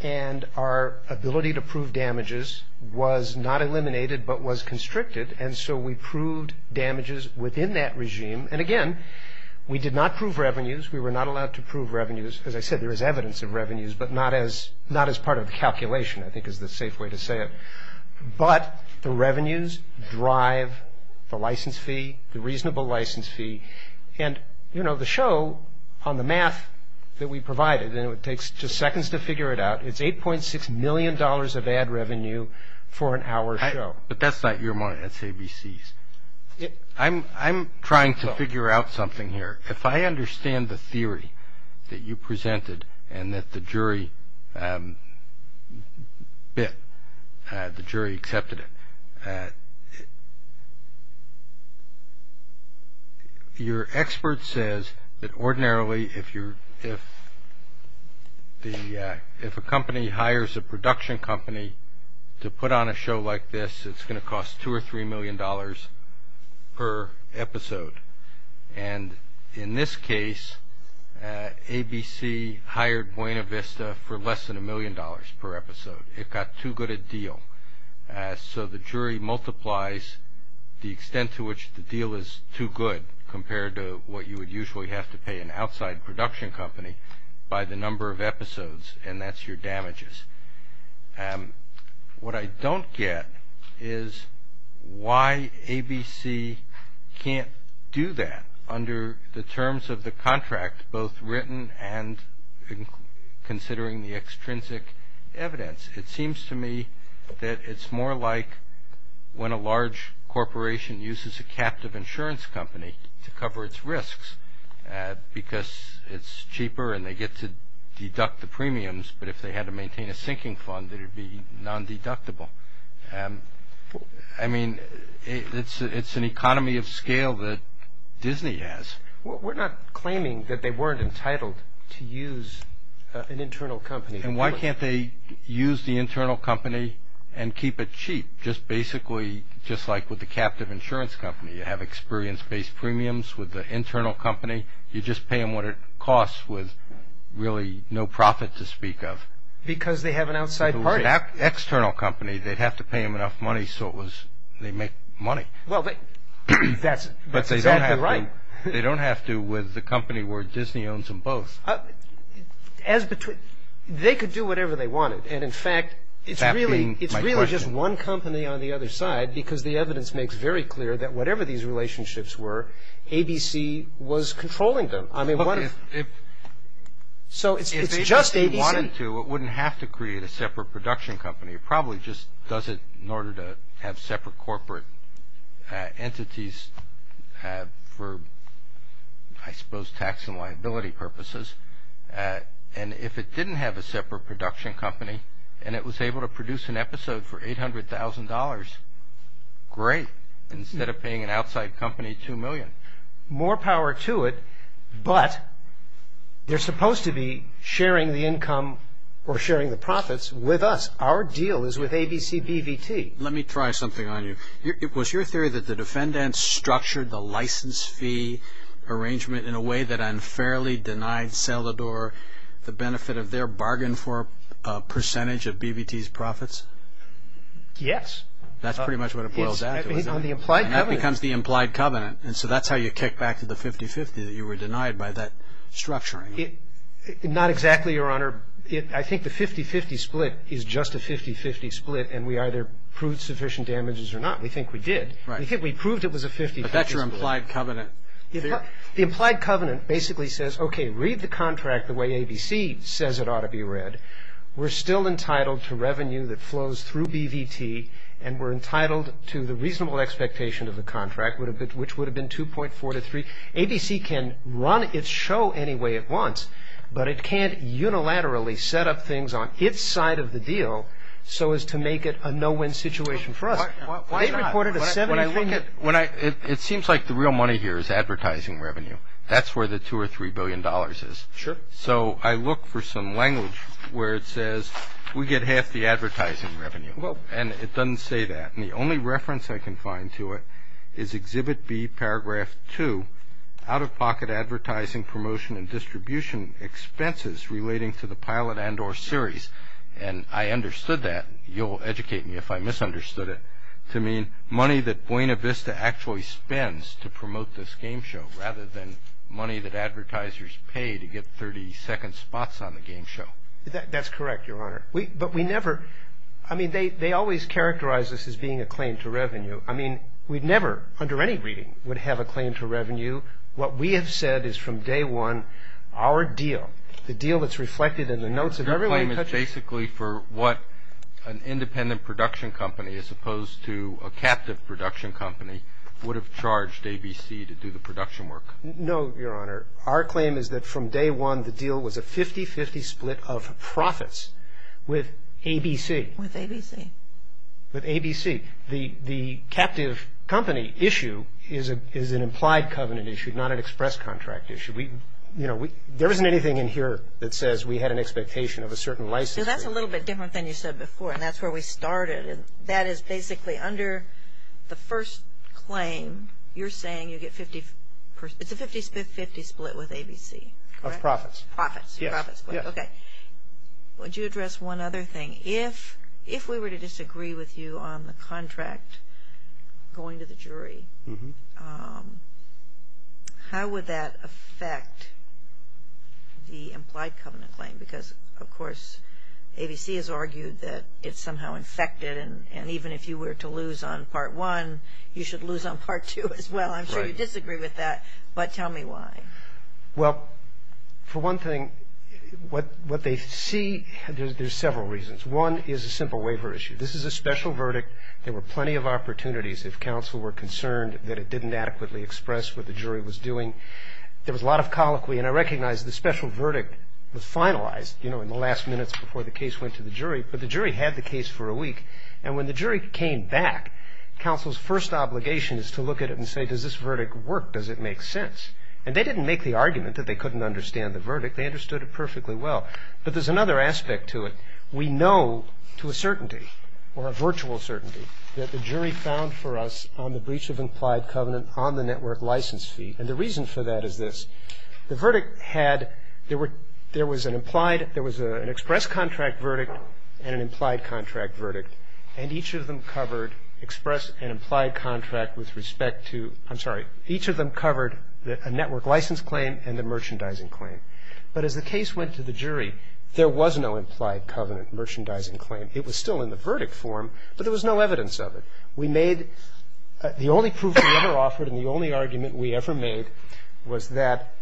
And our ability to prove damages was not eliminated but was constricted, and so we proved damages within that regime. And, again, we did not prove revenues. We were not allowed to prove revenues. As I said, there is evidence of revenues, but not as part of the calculation, I think, is the safe way to say it. But the revenues drive the license fee, the reasonable license fee, and, you know, the show on the math that we provided, and it takes just seconds to figure it out, it's $8.6 million of ad revenue for an hour show. But that's not your money, that's ABC's. I'm trying to figure out something here. If I understand the theory that you presented and that the jury bit, the jury accepted it, your expert says that ordinarily if a company hires a production company to put on a show like this, it's going to cost $2 or $3 million per episode. And in this case, ABC hired Buena Vista for less than $1 million per episode. It got too good a deal. So the jury multiplies the extent to which the deal is too good compared to what you would usually have to pay an outside production company by the number of episodes, and that's your damages. What I don't get is why ABC can't do that under the terms of the contract, both written and considering the extrinsic evidence. It seems to me that it's more like when a large corporation uses a captive insurance company to cover its risks because it's cheaper and they get to deduct the premiums. But if they had to maintain a sinking fund, it would be non-deductible. I mean, it's an economy of scale that Disney has. We're not claiming that they weren't entitled to use an internal company. And why can't they use the internal company and keep it cheap? Just basically, just like with the captive insurance company, you have experience-based premiums with the internal company. You just pay them what it costs with really no profit to speak of. Because they have an outside party. External company, they'd have to pay them enough money so it was they make money. Well, that's exactly right. They don't have to with the company where Disney owns them both. They could do whatever they wanted. And in fact, it's really just one company on the other side because the evidence makes very clear that whatever these relationships were, ABC was controlling them. So it's just ABC. If ABC wanted to, it wouldn't have to create a separate production company. It probably just does it in order to have separate corporate entities for, I suppose, tax and liability purposes. And if it didn't have a separate production company and it was able to produce an episode for $800,000, great, instead of paying an outside company $2 million. More power to it, but they're supposed to be sharing the income or sharing the profits with us. Our deal is with ABC-BVT. Let me try something on you. Was your theory that the defendants structured the license fee arrangement in a way that unfairly denied Selador the benefit of their bargain for a percentage of BVT's profits? Yes. That's pretty much what it boils down to, isn't it? On the implied covenant. And that becomes the implied covenant. And so that's how you kick back to the 50-50, that you were denied by that structuring. Not exactly, Your Honor. I think the 50-50 split is just a 50-50 split and we either proved sufficient damages or not. We think we did. Right. We proved it was a 50-50 split. But that's your implied covenant. The implied covenant basically says, okay, read the contract the way ABC says it ought to be read. We're still entitled to revenue that flows through BVT and we're entitled to the reasonable expectation of the contract, which would have been 2.4 to 3. ABC can run its show any way it wants, but it can't unilaterally set up things on its side of the deal so as to make it a no-win situation for us. Why not? They reported a 70 million. It seems like the real money here is advertising revenue. That's where the $2 or $3 billion is. Sure. So I look for some language where it says we get half the advertising revenue, and it doesn't say that. And the only reference I can find to it is Exhibit B, Paragraph 2, out-of-pocket advertising promotion and distribution expenses relating to the pilot and or series. And I understood that. You'll educate me if I misunderstood it to mean money that Buena Vista actually spends to promote this game show rather than money that advertisers pay to get 30-second spots on the game show. That's correct, Your Honor. But we never ‑‑ I mean, they always characterize this as being a claim to revenue. I mean, we never, under any reading, would have a claim to revenue. What we have said is from day one, our deal, the deal that's reflected in the notes of everyone ‑‑ Your claim is basically for what an independent production company, as opposed to a captive production company, would have charged ABC to do the production work. No, Your Honor. Our claim is that from day one, the deal was a 50‑50 split of profits with ABC. With ABC. With ABC. The captive company issue is an implied covenant issue, not an express contract issue. You know, there isn't anything in here that says we had an expectation of a certain license fee. So that's a little bit different than you said before, and that's where we started. And that is basically under the first claim, you're saying you get 50 ‑‑ it's a 50‑50 split with ABC, correct? Of profits. Profits. Profits. Yes. Okay. Would you address one other thing? If we were to disagree with you on the contract going to the jury, how would that affect the implied covenant claim? Because, of course, ABC has argued that it's somehow infected, and even if you were to lose on Part 1, you should lose on Part 2 as well. I'm sure you disagree with that, but tell me why. Well, for one thing, what they see, there's several reasons. One is a simple waiver issue. This is a special verdict. There were plenty of opportunities if counsel were concerned that it didn't adequately express what the jury was doing. There was a lot of colloquy. And I recognize the special verdict was finalized, you know, in the last minutes before the case went to the jury, but the jury had the case for a week. And when the jury came back, counsel's first obligation is to look at it and say, does this verdict work? Does it make sense? And they didn't make the argument that they couldn't understand the verdict. They understood it perfectly well. But there's another aspect to it. We know to a certainty, or a virtual certainty, that the jury found for us on the breach of implied covenant on the network license fee, and the reason for that is this. The verdict had, there was an implied, there was an express contract verdict and an implied contract verdict, and each of them covered express and implied contract with respect to, I'm sorry, each of them covered a network license claim and a merchandising claim. But as the case went to the jury, there was no implied covenant merchandising claim. It was still in the verdict form, but there was no evidence of it. We made, the only proof we ever offered and the only argument we ever made was that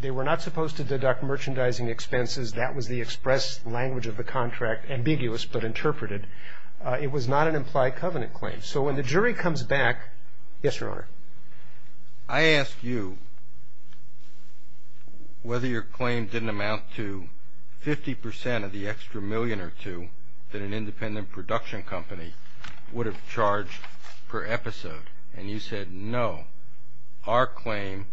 they were not supposed to deduct merchandising expenses. That was the express language of the contract, ambiguous but interpreted. It was not an implied covenant claim. So when the jury comes back, yes, Your Honor. I asked you whether your claim didn't amount to 50 percent of the extra million or two that an independent production company would have charged per episode, and you said no. Our claim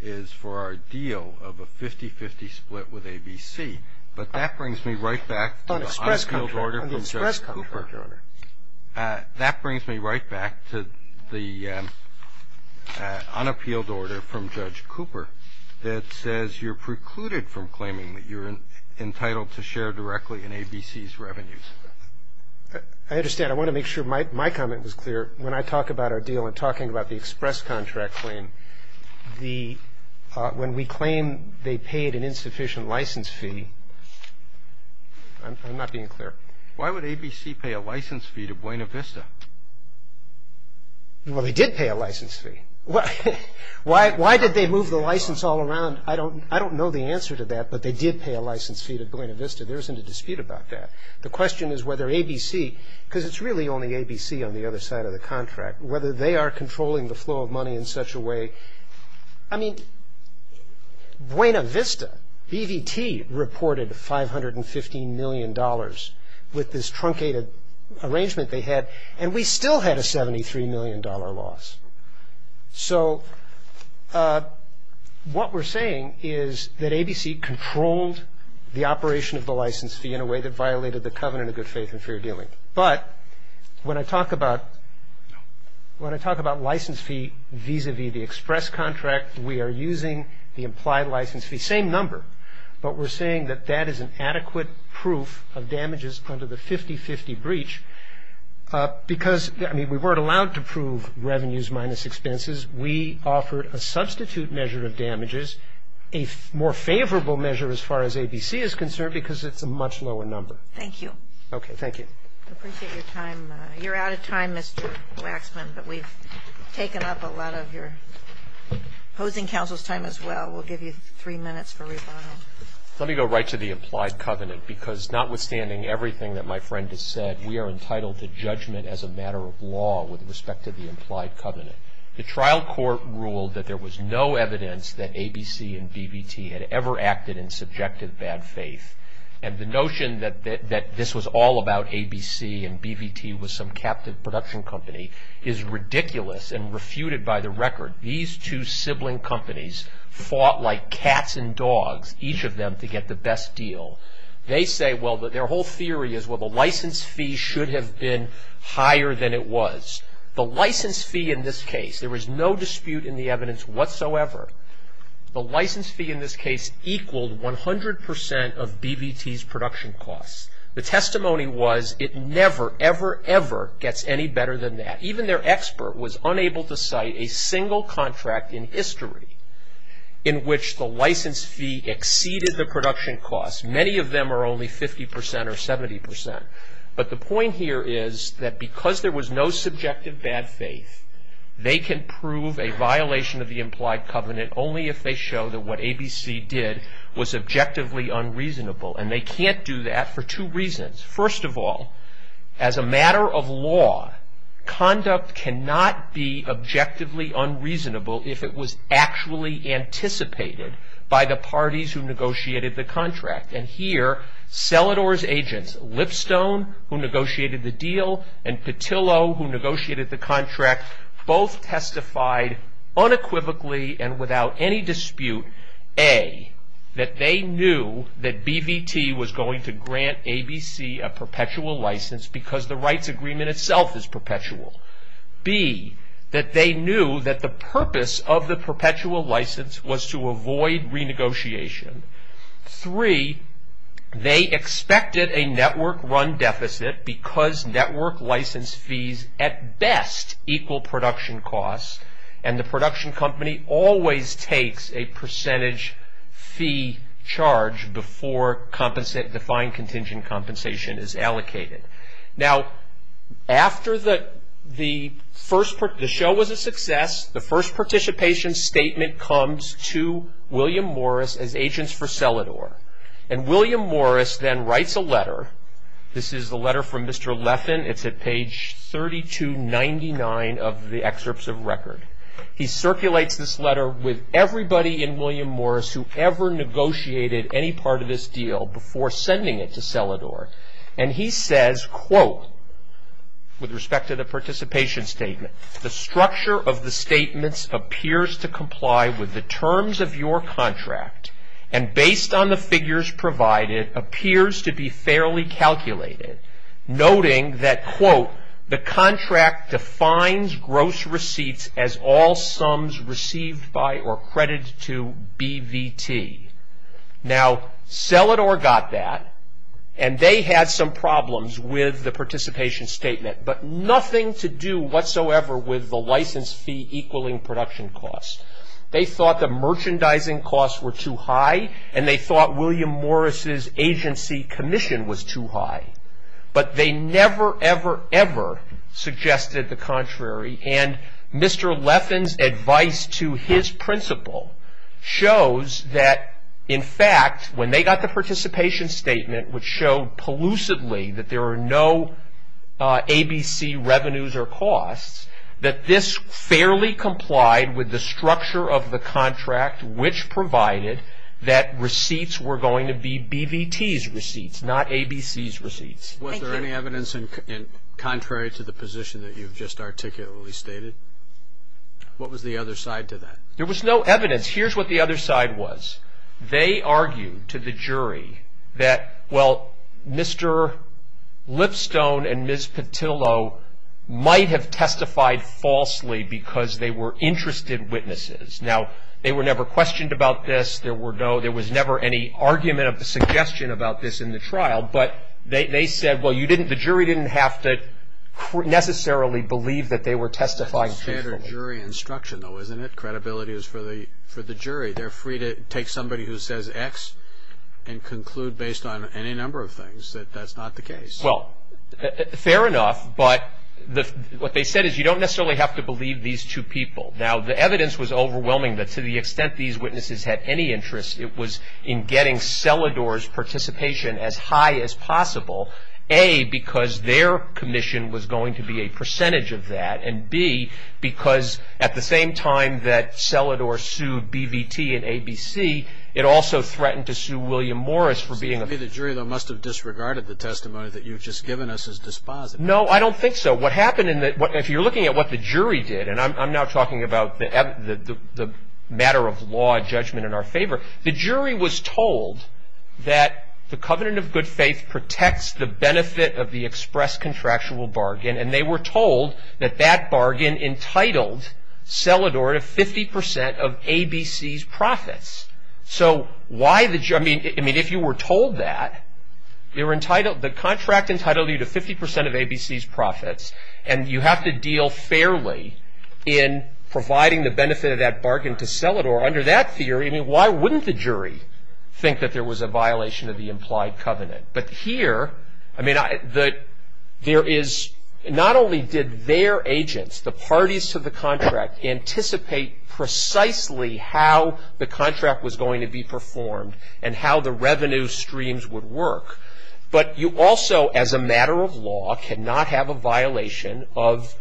is for our deal of a 50-50 split with ABC. But that brings me right back to the unappealed order from Judge Cooper. That brings me right back to the unappealed order from Judge Cooper that says you're precluded from claiming that you're entitled to share directly in ABC's revenues. I understand. I want to make sure my comment was clear. When I talk about our deal and talking about the express contract claim, when we claim they paid an insufficient license fee, I'm not being clear. Why would ABC pay a license fee to Buena Vista? Well, they did pay a license fee. Why did they move the license all around? I don't know the answer to that, but they did pay a license fee to Buena Vista. There isn't a dispute about that. The question is whether ABC, because it's really only ABC on the other side of the contract, whether they are controlling the flow of money in such a way. I mean, Buena Vista, BVT, reported $515 million with this truncated arrangement they had, and we still had a $73 million loss. So what we're saying is that ABC controlled the operation of the license fee in a way that violated the covenant of good faith and fair dealing. But when I talk about license fee vis-à-vis the express contract, we are using the implied license fee, same number, but we're saying that that is an adequate proof of damages under the 50-50 breach. Because, I mean, we weren't allowed to prove revenues minus expenses. We offered a substitute measure of damages, a more favorable measure as far as ABC is concerned because it's a much lower number. Thank you. Okay, thank you. I appreciate your time. You're out of time, Mr. Waxman, but we've taken up a lot of your opposing counsel's time as well. We'll give you three minutes for rebuttal. Let me go right to the implied covenant, because notwithstanding everything that my friend has said, we are entitled to judgment as a matter of law with respect to the implied covenant. The trial court ruled that there was no evidence that ABC and BVT had ever acted in subjective bad faith. And the notion that this was all about ABC and BVT was some captive production company is ridiculous and refuted by the record. These two sibling companies fought like cats and dogs, each of them to get the best deal. They say, well, their whole theory is, well, the license fee should have been higher than it was. The license fee in this case, there was no dispute in the evidence whatsoever. The license fee in this case equaled 100 percent of BVT's production costs. The testimony was it never, ever, ever gets any better than that. Even their expert was unable to cite a single contract in history in which the license fee exceeded the production costs. Many of them are only 50 percent or 70 percent. But the point here is that because there was no subjective bad faith, they can prove a violation of the implied covenant only if they show that what ABC did was objectively unreasonable. And they can't do that for two reasons. First of all, as a matter of law, conduct cannot be objectively unreasonable if it was actually anticipated by the parties who negotiated the contract. And here, Selador's agents, Lipstone, who negotiated the deal, and Petillo, who negotiated the contract, both testified unequivocally and without any dispute, A, that they knew that BVT was going to grant ABC a perpetual license because the rights agreement itself is perpetual. B, that they knew that the purpose of the perpetual license was to avoid renegotiation. Three, they expected a network run deficit because network license fees at best equal production costs and the production company always takes a percentage fee charge before defined contingent compensation is allocated. Now, after the show was a success, the first participation statement comes to William Morris as agents for Selador. And William Morris then writes a letter. This is a letter from Mr. Leffin. It's at page 3299 of the excerpts of record. He circulates this letter with everybody in William Morris who ever negotiated any part of this deal before sending it to Selador. And he says, quote, with respect to the participation statement, the structure of the statements appears to comply with the terms of your contract and based on the figures provided appears to be fairly calculated, noting that, quote, the contract defines gross receipts as all sums received by or credited to BVT. Now, Selador got that and they had some problems with the participation statement but nothing to do whatsoever with the license fee equaling production costs. They thought the merchandising costs were too high and they thought William Morris' agency commission was too high. But they never, ever, ever suggested the contrary. And Mr. Leffin's advice to his principal shows that, in fact, when they got the participation statement, which showed pollusively that there are no ABC revenues or costs, that this fairly complied with the structure of the contract, which provided that receipts were going to be BVT's receipts, not ABC's receipts. Thank you. Was there any evidence contrary to the position that you've just articulately stated? What was the other side to that? There was no evidence. Here's what the other side was. They argued to the jury that, well, Mr. Lipstone and Ms. Petillo might have testified falsely because they were interested witnesses. Now, they were never questioned about this. There was never any argument or suggestion about this in the trial. But they said, well, the jury didn't have to necessarily believe that they were testifying truthfully. That's standard jury instruction, though, isn't it? Credibility is for the jury. They're free to take somebody who says X and conclude based on any number of things that that's not the case. Well, fair enough. But what they said is you don't necessarily have to believe these two people. Now, the evidence was overwhelming that to the extent these witnesses had any interest, it was in getting Selador's participation as high as possible, A, because their commission was going to be a percentage of that, and, B, because at the same time that Selador sued BVT and ABC, it also threatened to sue William Morris for being a ---- So maybe the jury, though, must have disregarded the testimony that you've just given us as dispositive. No, I don't think so. What happened in the ---- if you're looking at what the jury did, and I'm now talking about the matter of law and judgment in our favor, the jury was told that the covenant of good faith protects the benefit of the express contractual bargain, and they were told that that bargain entitled Selador to 50 percent of ABC's profits. So why the ---- I mean, if you were told that, the contract entitled you to 50 percent of ABC's profits, and you have to deal fairly in providing the benefit of that bargain to Selador, under that theory, I mean, why wouldn't the jury think that there was a violation of the implied covenant? But here, I mean, there is not only did their agents, the parties to the contract, anticipate precisely how the contract was going to be performed and how the revenue streams would work, but you also, as a matter of law, cannot have a violation of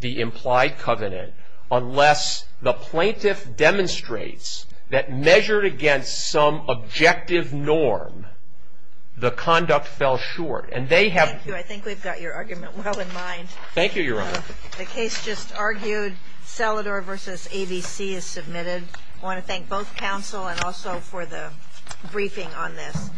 the implied covenant unless the plaintiff demonstrates that measured against some objective norm, the conduct fell short. And they have ---- Thank you. I think we've got your argument well in mind. Thank you, Your Honor. The case just argued. Selador v. ABC is submitted. I want to thank both counsel and also for the briefing on this.